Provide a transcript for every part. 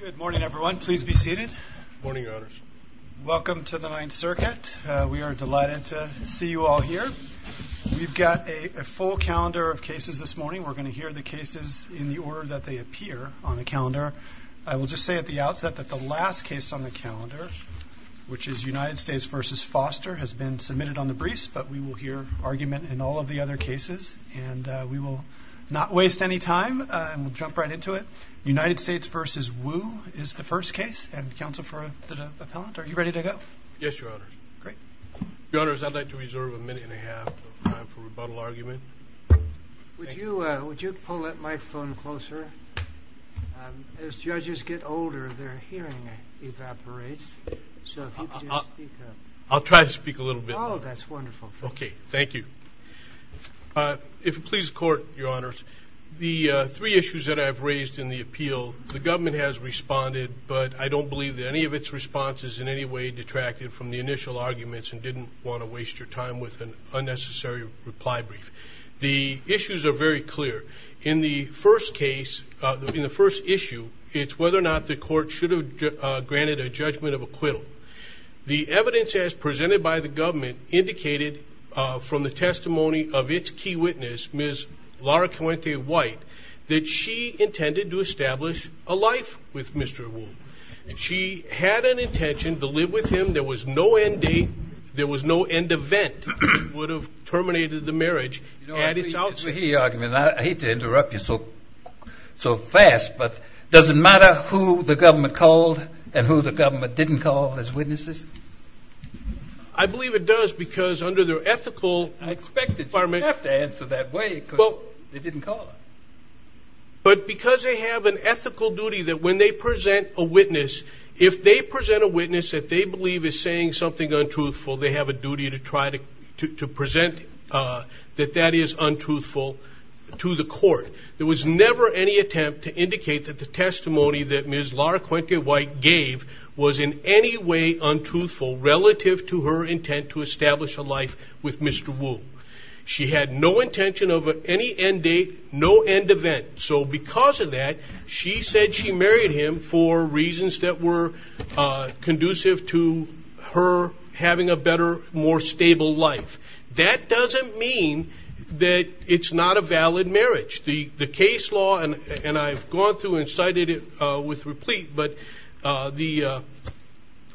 Good morning, everyone. Please be seated morning honors. Welcome to the Ninth Circuit. We are delighted to see you all here We've got a full calendar of cases this morning We're gonna hear the cases in the order that they appear on the calendar I will just say at the outset that the last case on the calendar Which is United States versus Foster has been submitted on the briefs But we will hear argument and all of the other cases and we will not waste any time And we'll jump right into it United States versus Wu is the first case and counsel for the appellant. Are you ready to go? Yes, your honor. Great. Your honors. I'd like to reserve a minute and a half for rebuttal argument Would you would you pull up my phone closer? As judges get older their hearing evaporates I'll try to speak a little bit. Oh, that's wonderful. Okay. Thank you If it pleases court your honors the three issues that I've raised in the appeal the government has responded but I don't believe that any of its responses in any way detracted from the initial arguments and didn't want to waste your time with an Unnecessary reply brief the issues are very clear in the first case in the first issue It's whether or not the court should have granted a judgment of acquittal The evidence as presented by the government indicated from the testimony of its key witness miss Laura, can we take white that she intended to establish a life with mr. Wu? And she had an intention to live with him. There was no end date There was no end event would have terminated the marriage and it's also he argument. I hate to interrupt you so So fast, but doesn't matter who the government called and who the government didn't call as witnesses I Believe it does because under their ethical I expect the department have to answer that way. Well, they didn't call but because they have an ethical duty that when they present a witness if They present a witness that they believe is saying something untruthful. They have a duty to try to to present That that is untruthful To the court there was never any attempt to indicate that the testimony that mrs Laura Quentin white gave was in any way untruthful relative to her intent to establish a life with mr Wu she had no intention of any end date no end event So because of that she said she married him for reasons that were Conducive to her having a better more stable life That doesn't mean that it's not a valid marriage the the case law and and I've gone through and cited it with replete, but the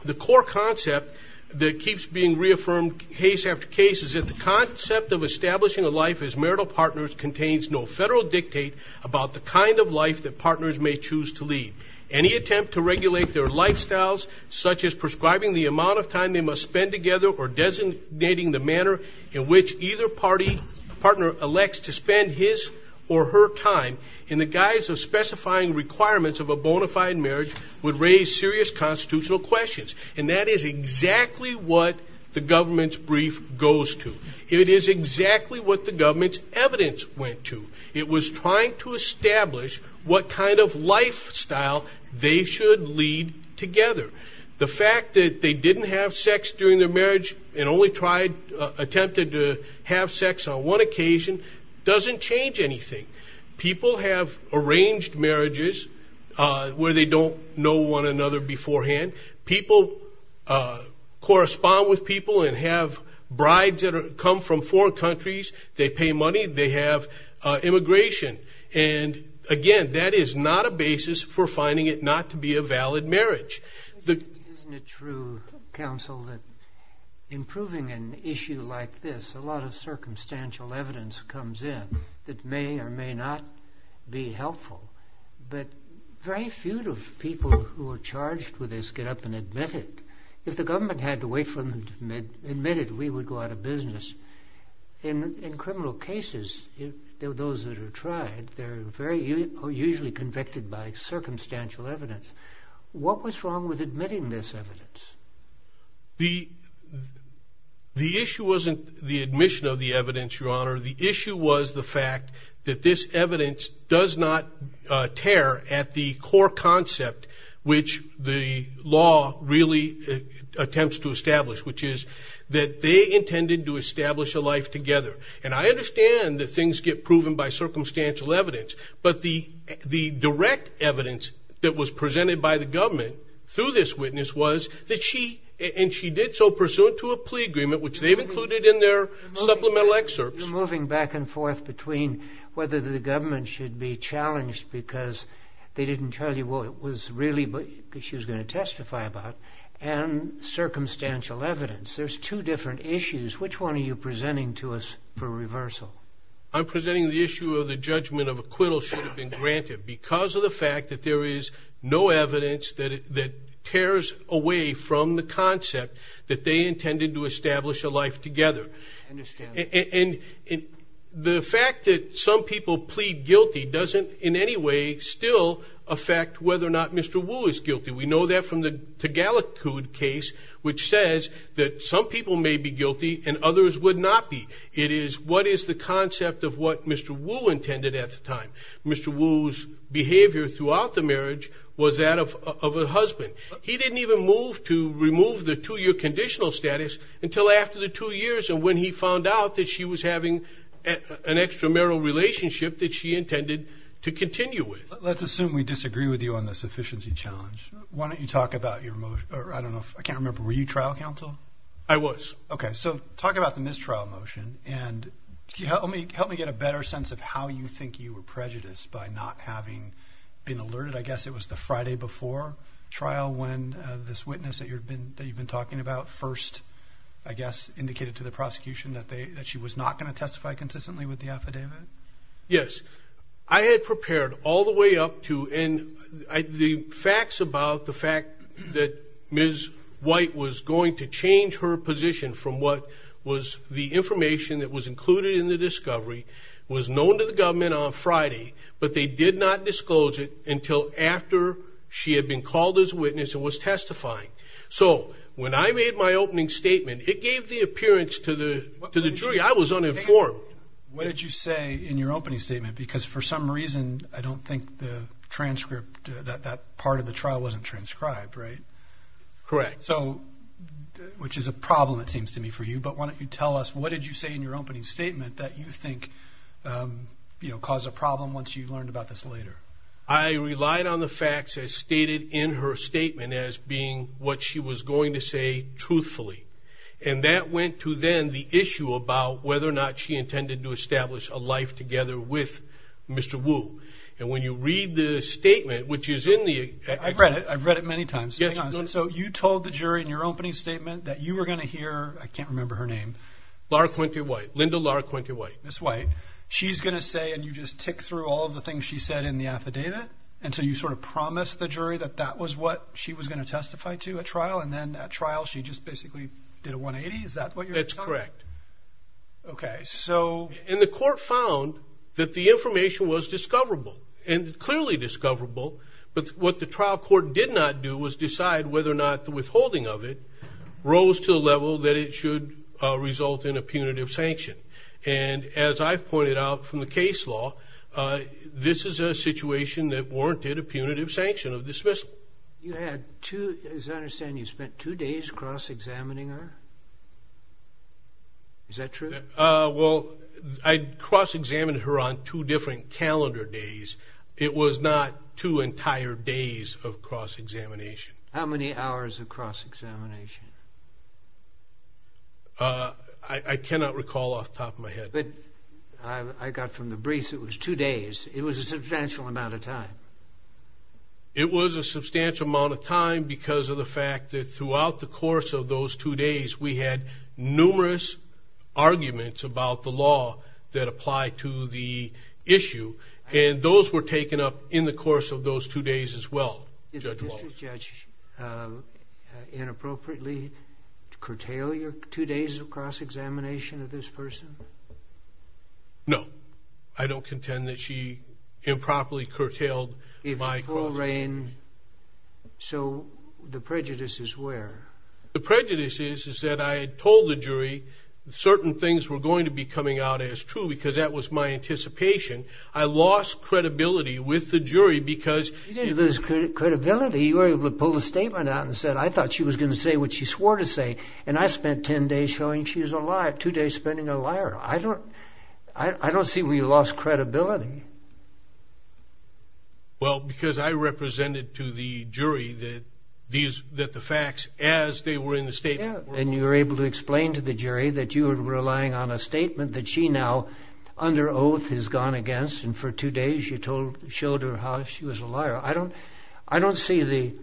the core concept that keeps being reaffirmed case after case is that the Concept of establishing a life as marital partners contains no federal dictate About the kind of life that partners may choose to lead any attempt to regulate their lifestyles Such as prescribing the amount of time they must spend together or designating the manner in which either party Partner elects to spend his or her time in the guise of specifying requirements of a bona fide marriage would raise serious constitutional questions And that is exactly what the government's brief goes to it is exactly what the government's evidence Went to it was trying to establish what kind of lifestyle they should lead together The fact that they didn't have sex during their marriage and only tried Attempted to have sex on one occasion doesn't change anything People have arranged marriages Where they don't know one another beforehand people Correspond with people and have brides that come from foreign countries they pay money they have immigration and Again, that is not a basis for finding it not to be a valid marriage the true counsel that Improving an issue like this a lot of circumstantial evidence comes in that may or may not be helpful But very few of people who are charged with this get up and admit it if the government had to wait for them Admitted we would go out of business In in criminal cases There are those that are tried. They're very usually convicted by circumstantial evidence What was wrong with admitting this evidence? the The issue wasn't the admission of the evidence your honor the issue was the fact that this evidence does not tear at the core concept which the law really Attempts to establish which is that they intended to establish a life together And I understand that things get proven by circumstantial evidence But the the direct evidence that was presented by the government Through this witness was that she and she did so pursuant to a plea agreement, which they've included in their supplemental excerpts we're moving back and forth between whether the government should be challenged because They didn't tell you what it was really, but she was going to testify about and Circumstantial evidence there's two different issues. Which one are you presenting to us for reversal? I'm presenting the issue of the judgment of acquittal should have been granted because of the fact that there is no evidence that it that Tears away from the concept that they intended to establish a life together And in the fact that some people plead guilty doesn't in any way still affect Whether or not mr. Wu is guilty we know that from the Tagalog case which says that some people may be guilty and others would not be it is What is the concept of what mr.. Wu intended at the time mr. Wu's behavior throughout the marriage was that of a husband He didn't even move to remove the two-year conditional status until after the two years and when he found out that she was having An extramarital relationship that she intended to continue with let's assume we disagree with you on the sufficiency challenge Why don't you talk about your motion? I don't know if I can't remember were you trial counsel. I was okay so talk about the mistrial motion and You help me help me get a better sense of how you think you were prejudiced by not having been alerted It was the Friday before Trial when this witness that you've been that you've been talking about first I guess indicated to the prosecution that they that she was not going to testify consistently with the affidavit yes, I had prepared all the way up to and The facts about the fact that Ms. White was going to change her position from what was the information that was included in the discovery? Was known to the government on Friday, but they did not disclose it until after she had been called as witness and was testifying So when I made my opening statement, it gave the appearance to the to the jury. I was uninformed What did you say in your opening statement? Because for some reason I don't think the transcript that that part of the trial wasn't transcribed right correct, so You know cause a problem once you've learned about this later I relied on the facts as stated in her statement as being what she was going to say truthfully and that went to then the issue about whether or not she intended to establish a life together with Mr. Wu and when you read the statement, which is in the I've read it. I've read it many times So you told the jury in your opening statement that you were gonna hear I can't remember her name Laura Quinty-White, Linda Laura Quinty-White. Ms. White She's gonna say and you just tick through all the things she said in the affidavit And so you sort of promised the jury that that was what she was gonna testify to a trial and then at trial She just basically did a 180. Is that what you're correct? Okay, so and the court found that the information was discoverable and clearly discoverable But what the trial court did not do was decide whether or not the withholding of it Rose to the level that it should result in a punitive sanction and as I pointed out from the case law This is a situation that warranted a punitive sanction of dismissal You had to as I understand you spent two days cross-examining her Is that true well, I'd cross-examined her on two different calendar days It was not two entire days of cross-examination How many hours of cross-examination? I Cannot recall off the top of my head, but I got from the briefs. It was two days. It was a substantial amount of time It was a substantial amount of time because of the fact that throughout the course of those two days. We had numerous Arguments about the law that apply to the issue and those were taken up in the course of those two days as well Inappropriately curtail your two days of cross-examination of this person No, I don't contend that she Improperly curtailed if I call rain So the prejudice is where the prejudice is is that I told the jury Certain things were going to be coming out as true because that was my anticipation I lost credibility with the jury because this Credibility you were able to pull the statement out and said I thought she was going to say what she swore to say and I Spent ten days showing she was alive two days spending a liar. I don't I don't see we lost credibility Well because I represented to the jury that These that the facts as they were in the statement and you were able to explain to the jury that you were relying on a statement That she now under oath has gone against and for two days. You told showed her how she was a liar I don't I don't see the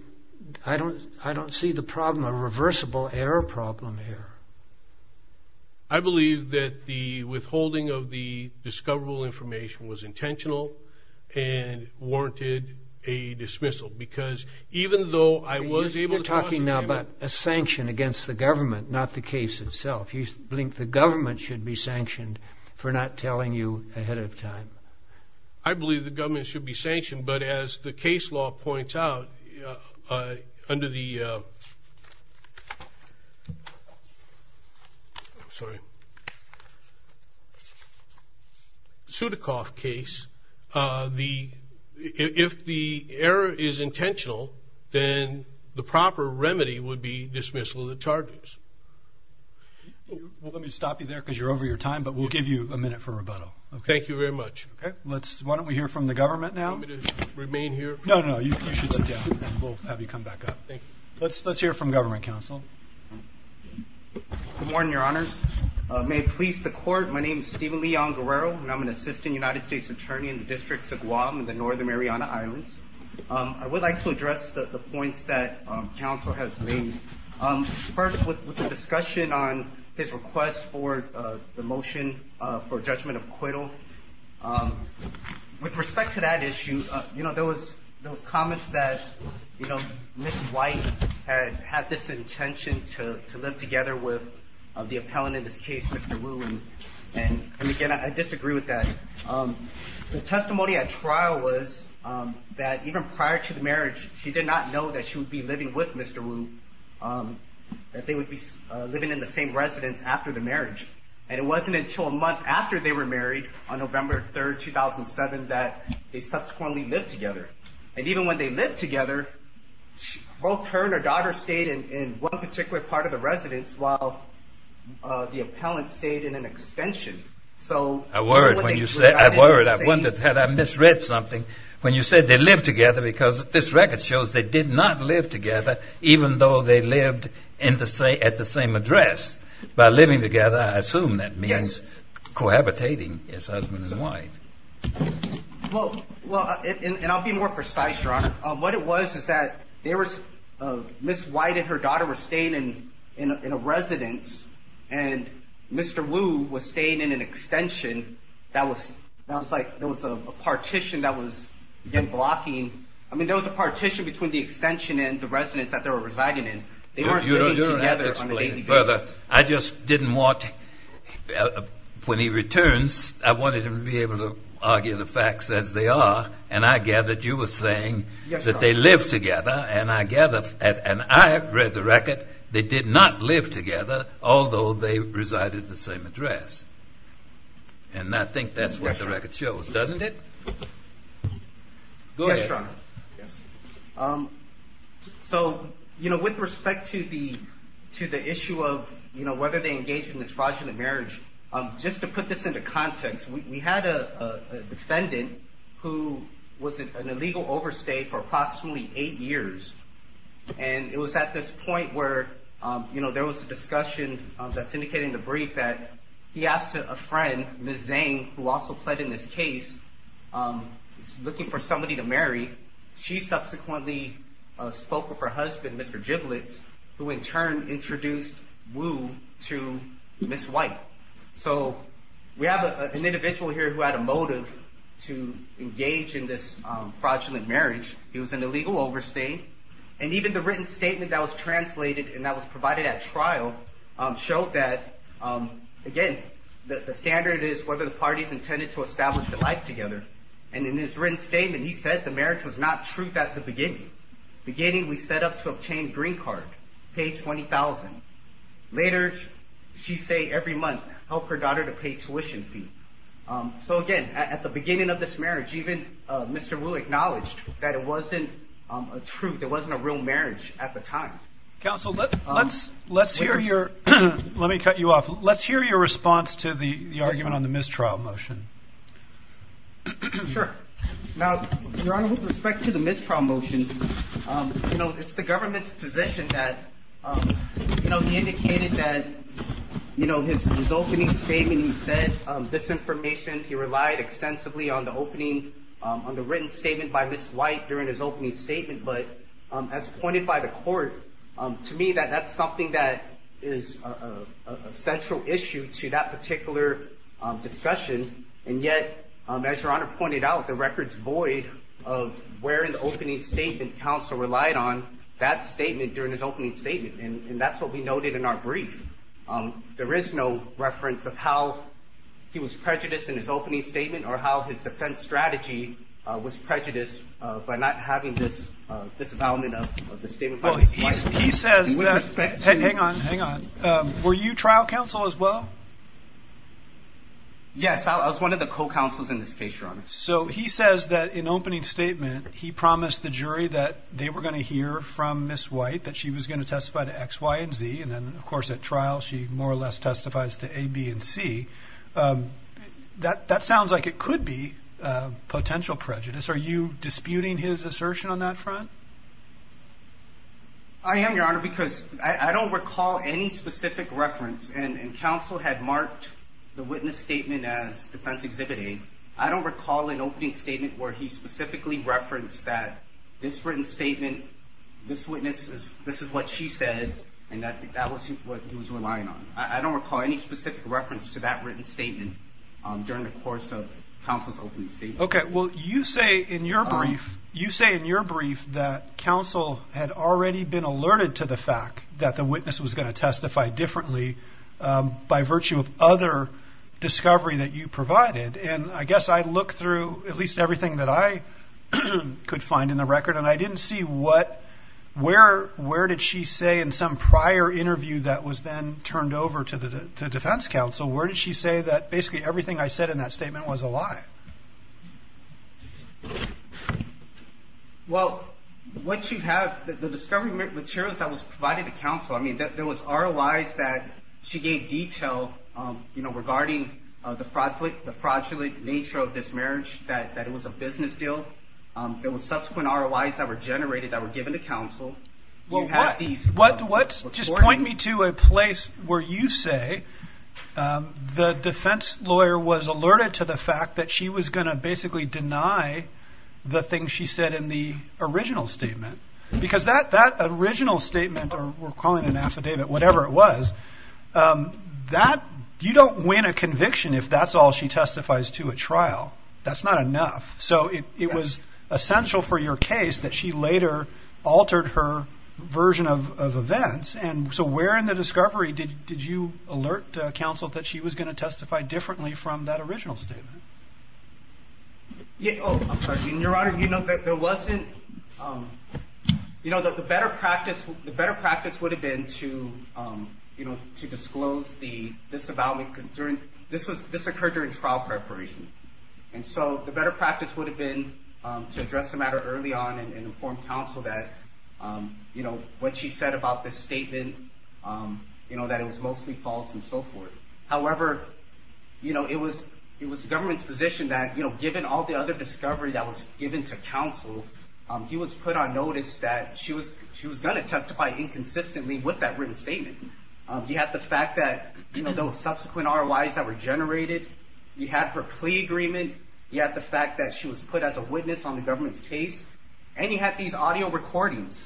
I don't I don't see the problem a reversible error problem here. I believe that the withholding of the discoverable information was intentional and warranted a Dismissal because even though I was able to talking about a sanction against the government not the case itself Blink the government should be sanctioned for not telling you ahead of time. I Believe the government should be sanctioned. But as the case law points out under the Sorry Sudakov case the If the error is intentional, then the proper remedy would be dismissal of the charges Oh, let me stop you there because you're over your time, but we'll give you a minute for rebuttal. Thank you very much Okay, let's why don't we hear from the government now to remain here? No. No, you should Have you come back up? Let's let's hear from government counsel Good morning, your honors may it please the court. My name is Steven Lee on Guerrero And I'm an assistant United States attorney in the districts of Guam in the Northern Mariana Islands I would like to address the points that Counsel has made first with the discussion on his request for the motion for judgment of acquittal With respect to that issue, you know, there was those comments that you know Miss White had had this intention to live together with of the appellant in this case. Mr Ruling and again, I disagree with that the testimony at trial was That even prior to the marriage she did not know that she would be living with mr. Wu That they would be living in the same residence after the marriage and it wasn't until a month after they were married on November 3rd 2007 that they subsequently lived together and even when they lived together both her and her daughter stayed in one particular part of the residence while The appellant stayed in an extension. So a word when you say I've worried Had I misread something when you said they live together because this record shows they did not live together Even though they lived in to say at the same address by living together. I assume that means cohabitating Well, well and I'll be more precise drunk what it was is that there was Miss White and her daughter were staying in in a residence and Mr. Wu was staying in an extension that was like there was a partition that was in blocking I mean, there was a partition between the extension and the residents that they were residing in Further I just didn't want When he returns I wanted him to be able to argue the facts as they are and I gathered you were saying That they live together and I gather and I read the record. They did not live together Although they resided the same address and I think that's what the record shows, doesn't it? So, you know with respect to the to the issue of you know whether they engage in this fraudulent marriage just to put this into context we had a defendant who was an illegal overstay for approximately eight years and It was at this point where you know, there was a discussion that's indicating the brief that he asked a friend Miss Zane who also pled in this case Looking for somebody to marry she subsequently Spoke with her husband. Mr. Giblets who in turn introduced Wu to miss white So we have an individual here who had a motive to engage in this fraudulent marriage It was an illegal overstay and even the written statement that was translated and that was provided at trial showed that Again, the standard is whether the parties intended to establish the life together and in his written statement He said the marriage was not truth at the beginning Beginning we set up to obtain green card page 20,000 later She say every month help her daughter to pay tuition fee So again at the beginning of this marriage even mr. Wu acknowledged that it wasn't a truth It wasn't a real marriage at the time counsel. But let's let's hear your let me cut you off Let's hear your response to the argument on the mistrial motion Now with respect to the mistrial motion, you know, it's the government's position that No, he indicated that You know his opening statement. He said this information He relied extensively on the opening on the written statement by this white during his opening statement but as pointed by the court to me that that's something that is a central issue to that particular discussion and yet as your honor pointed out the records void of Wearing the opening statement counsel relied on that statement during his opening statement and that's what we noted in our brief There is no reference of how He was prejudiced in his opening statement or how his defense strategy was prejudiced by not having this disavowal Were you trial counsel as well Yes, I was one of the co-counsel's in this case wrong so he says that in opening statement He promised the jury that they were going to hear from miss white that she was going to testify to X Y & Z And then of course at trial she more or less testifies to a B and C That that sounds like it could be Potential prejudice. Are you disputing his assertion on that front? I The witness statement as defense exhibiting I don't recall an opening statement where he specifically referenced that this written statement This witness is this is what she said and that that was what he was relying on I don't recall any specific reference to that written statement During the course of counsel's open state. Okay. Well you say in your brief You say in your brief that counsel had already been alerted to the fact that the witness was going to testify differently By virtue of other Discovery that you provided and I guess I look through at least everything that I Could find in the record and I didn't see what? Where where did she say in some prior interview that was then turned over to the defense counsel? Where did she say that basically everything I said in that statement was a lie Well what you have the discovery materials that was provided to counsel I mean that there was our allies that She gave detail, you know regarding the fraud click the fraudulent nature of this marriage that that it was a business deal There was subsequent our allies that were generated that were given to counsel Well, what do what's just point me to a place where you say? The defense lawyer was alerted to the fact that she was going to basically deny The thing she said in the original statement because that that original statement or we're calling an affidavit Whatever it was That you don't win a conviction if that's all she testifies to a trial. That's not enough So it was essential for your case that she later Altered her version of events and so we're in the discovery Did you alert counsel that she was going to testify differently from that original statement? Yeah, your honor, you know that there wasn't You know that the better practice the better practice would have been to You know to disclose the this about me during this was this occurred during trial preparation and so the better practice would have been to address the matter early on and inform counsel that You know what? She said about this statement You know that it was mostly false and so forth. However You know, it was it was the government's position that you know, given all the other discovery that was given to counsel He was put on notice that she was she was going to testify inconsistently with that written statement You have the fact that you know those subsequent our lives that were generated you had her plea agreement You had the fact that she was put as a witness on the government's case and you had these audio recordings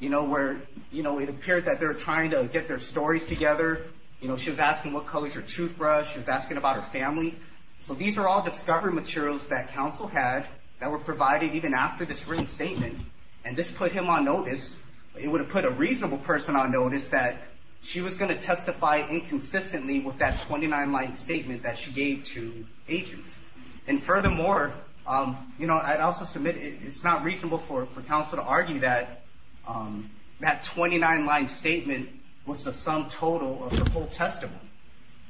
You know where you know, it appeared that they're trying to get their stories together You know, she was asking what colors your toothbrush she was asking about her family So these are all discovery materials that counsel had that were provided even after this written statement and this put him on notice it would have put a reasonable person on notice that she was going to testify inconsistently with that 29-line statement that she gave to agents and furthermore You know, I'd also submit it. It's not reasonable for counsel to argue that That 29-line statement was the sum total of the whole testimony,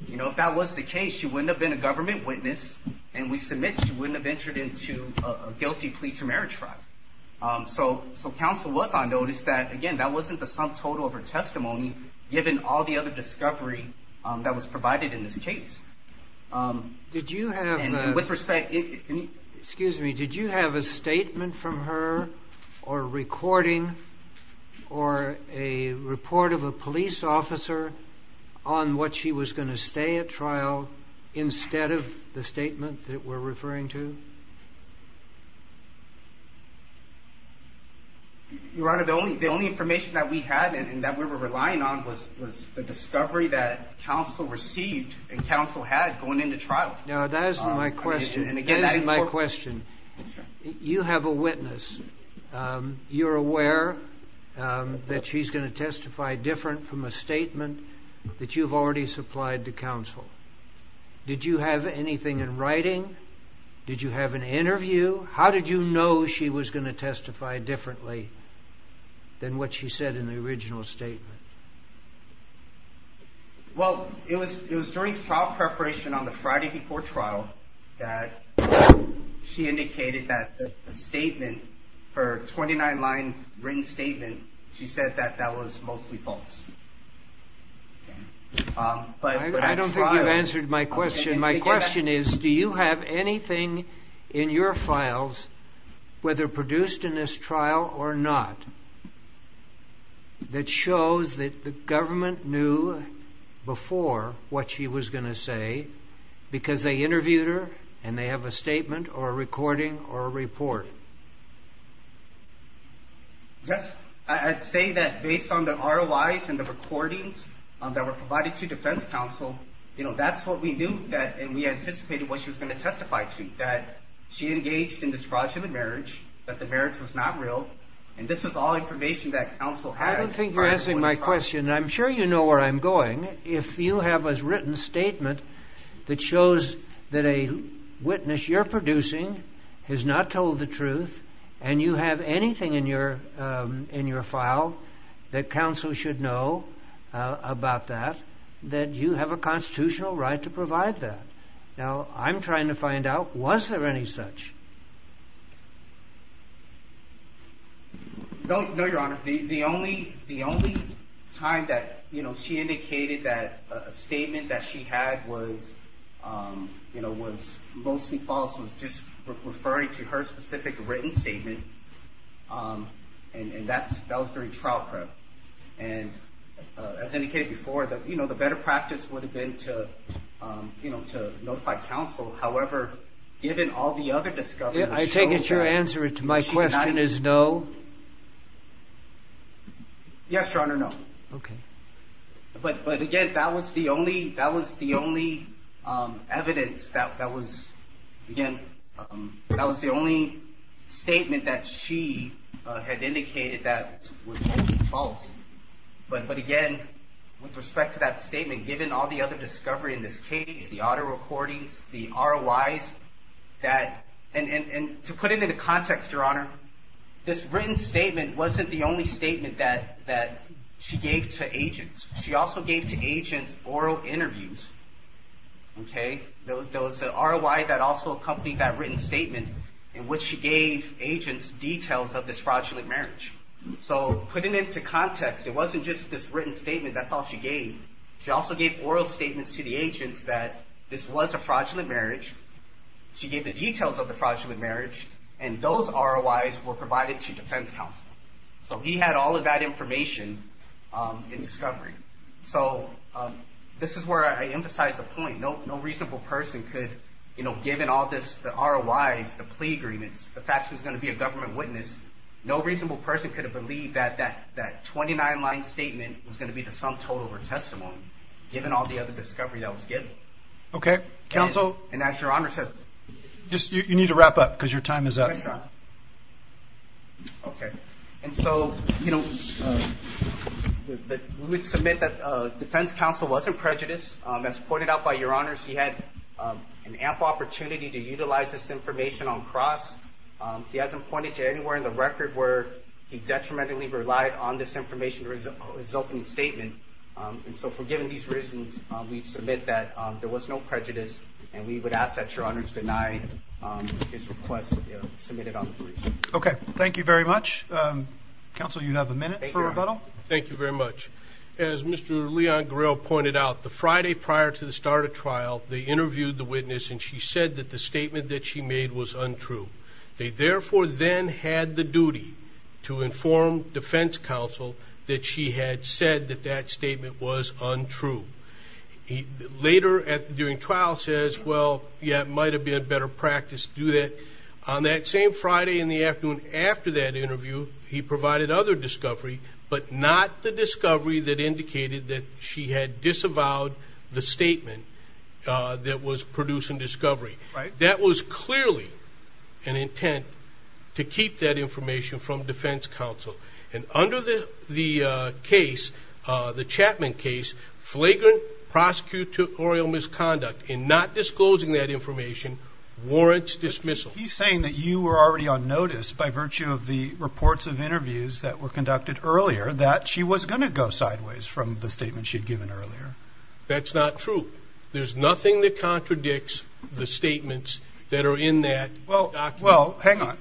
you know If that was the case, you wouldn't have been a government witness and we submit she wouldn't have entered into a guilty plea to marriage fraud So so counsel was on notice that again, that wasn't the sum total of her testimony given all the other discovery That was provided in this case Did you have with respect? Excuse me. Did you have a statement from her or? recording or a Report of a police officer on what she was going to stay at trial instead of the statement that we're referring to You are the only the only information that we had and that we were relying on was was the discovery that Counsel received and counsel had going into trial. No, that isn't my question. And again, that is my question You have a witness You're aware That she's going to testify different from a statement that you've already supplied to counsel Did you have anything in writing? Did you have an interview? How did you know she was going to testify differently? Than what she said in the original statement Well, it was it was during trial preparation on the Friday before trial that She indicated that the statement her 29-line written statement she said that that was mostly false But I don't think you've answered my question my question is do you have anything in your files? whether produced in this trial or not That shows that the government knew Before what she was going to say because they interviewed her and they have a statement or a recording or a report Yes, I'd say that based on the ROIs and the recordings that were provided to defense counsel you know, that's what we knew that and we anticipated what she was going to testify to that she engaged in this fraudulent marriage that The marriage was not real and this is all information that counsel had I don't think you're asking my question I'm sure you know where I'm going if you have as written statement that shows that a Witness you're producing has not told the truth and you have anything in your in your file That counsel should know About that that you have a constitutional right to provide that now. I'm trying to find out was there any such I Don't know your honor the only the only time that you know, she indicated that a statement that she had was You know was mostly false was just referring to her specific written statement and that's that was during trial prep and as indicated before that, you know, the better practice would have been to You know to notify counsel, however, given all the other discovery I take it your answer to my question is no Yes, your honor no, okay But but again, that was the only that was the only Evidence that that was again. That was the only Statement that she had indicated that was false But but again with respect to that statement given all the other discovery in this case the auto recordings the ROIs That and and to put it into context your honor This written statement wasn't the only statement that that she gave to agents. She also gave to agents oral interviews Okay, those are why that also accompanied that written statement in which she gave agents details of this fraudulent marriage So putting it to context it wasn't just this written statement That's all she gave she also gave oral statements to the agents that this was a fraudulent marriage She gave the details of the fraudulent marriage and those ROIs were provided to defense counsel. So he had all of that information in discovery, so This is where I emphasize the point No, no reasonable person could you know given all this the ROIs the plea agreements the fact who's going to be a government witness No reasonable person could have believed that that that 29-line statement was going to be the sum total or testimony Given all the other discovery that was given. Okay counsel and as your honor said just you need to wrap up because your time is up Okay, and so, you know We'd submit that defense counsel wasn't prejudiced as pointed out by your honors He had an ample opportunity to utilize this information on cross He hasn't pointed to anywhere in the record where he detrimentally relied on this information or his opening statement And so for giving these reasons we submit that there was no prejudice and we would ask that your honors deny Okay, thank you very much Counsel you have a minute for rebuttal. Thank you very much as mr Leon grill pointed out the Friday prior to the start of trial They interviewed the witness and she said that the statement that she made was untrue They therefore then had the duty to inform defense counsel that she had said that that statement was untrue He later at during trial says well Yeah, it might have been a better practice to do that on that same Friday in the afternoon after that interview He provided other discovery, but not the discovery that indicated that she had disavowed the statement That was producing discovery, right that was clearly an Intent to keep that information from defense counsel and under the the case the Chapman case flagrant prosecutorial misconduct in not disclosing that information warrants dismissal He's saying that you were already on notice by virtue of the reports of interviews that were conducted earlier that she was going to go Sideways from the statement she'd given earlier. That's not true There's nothing that contradicts the statements that are in that well well hang on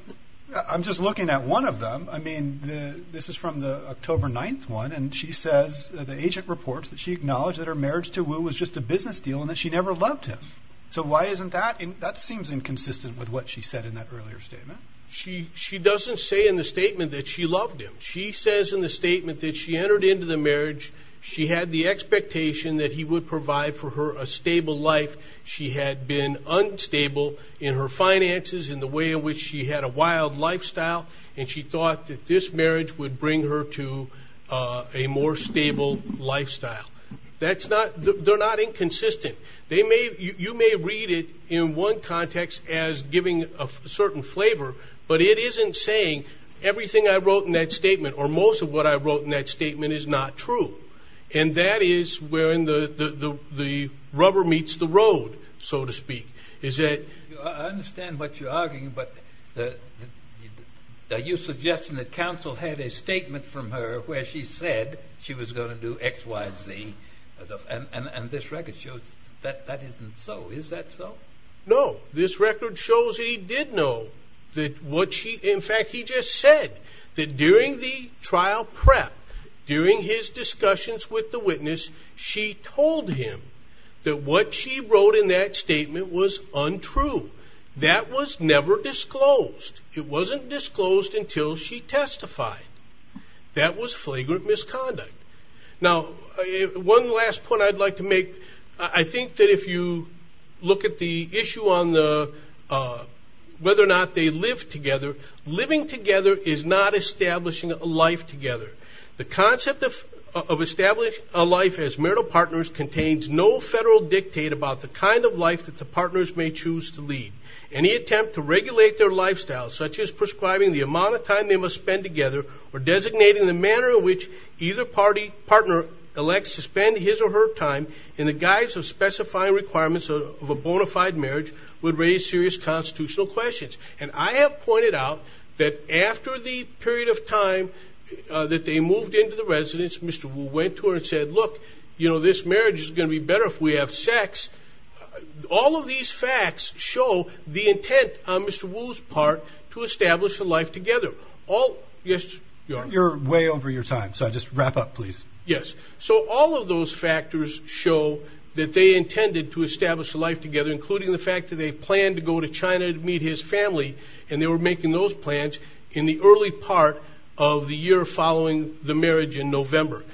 I'm just looking at one of them I mean this is from the October 9th one and she says the agent reports that she acknowledged that her marriage to Wu was just a business deal and that she never Loved him so why isn't that and that seems inconsistent with what she said in that earlier statement? She she doesn't say in the statement that she loved him She says in the statement that she entered into the marriage. She had the expectation that he would provide for her a stable life She had been unstable in her finances in the way in which she had a wild Lifestyle and she thought that this marriage would bring her to a more stable Lifestyle, that's not they're not inconsistent They may you may read it in one context as giving a certain flavor But it isn't saying everything I wrote in that statement or most of what I wrote in that statement is not true And that is where in the the the rubber meets the road so to speak is that? understand what you're arguing, but You suggesting that counsel had a statement from her where she said she was going to do X Y Z And and this record shows that that isn't so is that so no this record shows He did know that what she in fact he just said that during the trial prep During his discussions with the witness she told him that what she wrote in that statement was Untrue that was never disclosed. It wasn't disclosed until she testified That was flagrant misconduct now one last point I'd like to make I think that if you look at the issue on the Whether or not they live together living together is not establishing a life together the concept of Establish a life as marital partners contains no federal dictate about the kind of life that the partners may choose to lead Any attempt to regulate their lifestyle such as prescribing the amount of time they must spend together or designating the manner in which either party? Partner elects to spend his or her time in the guise of specifying requirements of a bona fide marriage would raise serious Constitutional questions, and I have pointed out that after the period of time That they moved into the residence mr. Wu went to her and said look you know this marriage is going to be better if we have sex All of these facts show the intent on mr. Wu's part to establish a life together all yes, you're way over your time, so I just wrap up please yes So all of those factors show that they intended to establish a life together Including the fact that they planned to go to China to meet his family And they were making those plans in the early part of the year following the marriage in November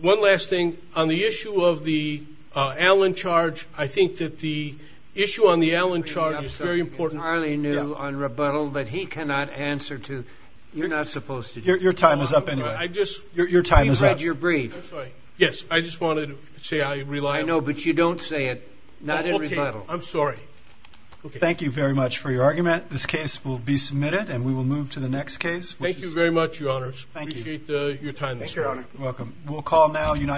one last thing on the issue of the Allen charge I think that the issue on the Allen charge is very important I only knew on rebuttal that he cannot answer to you're not supposed to your time is up anyway I just your time is that your brief yes I just wanted to say I rely no, but you don't say it not every level. I'm sorry Thank you very much for your argument this case will be submitted and we will move to the next case Thank you very much your honors. Thank you your time. Thank you welcome. We'll call now United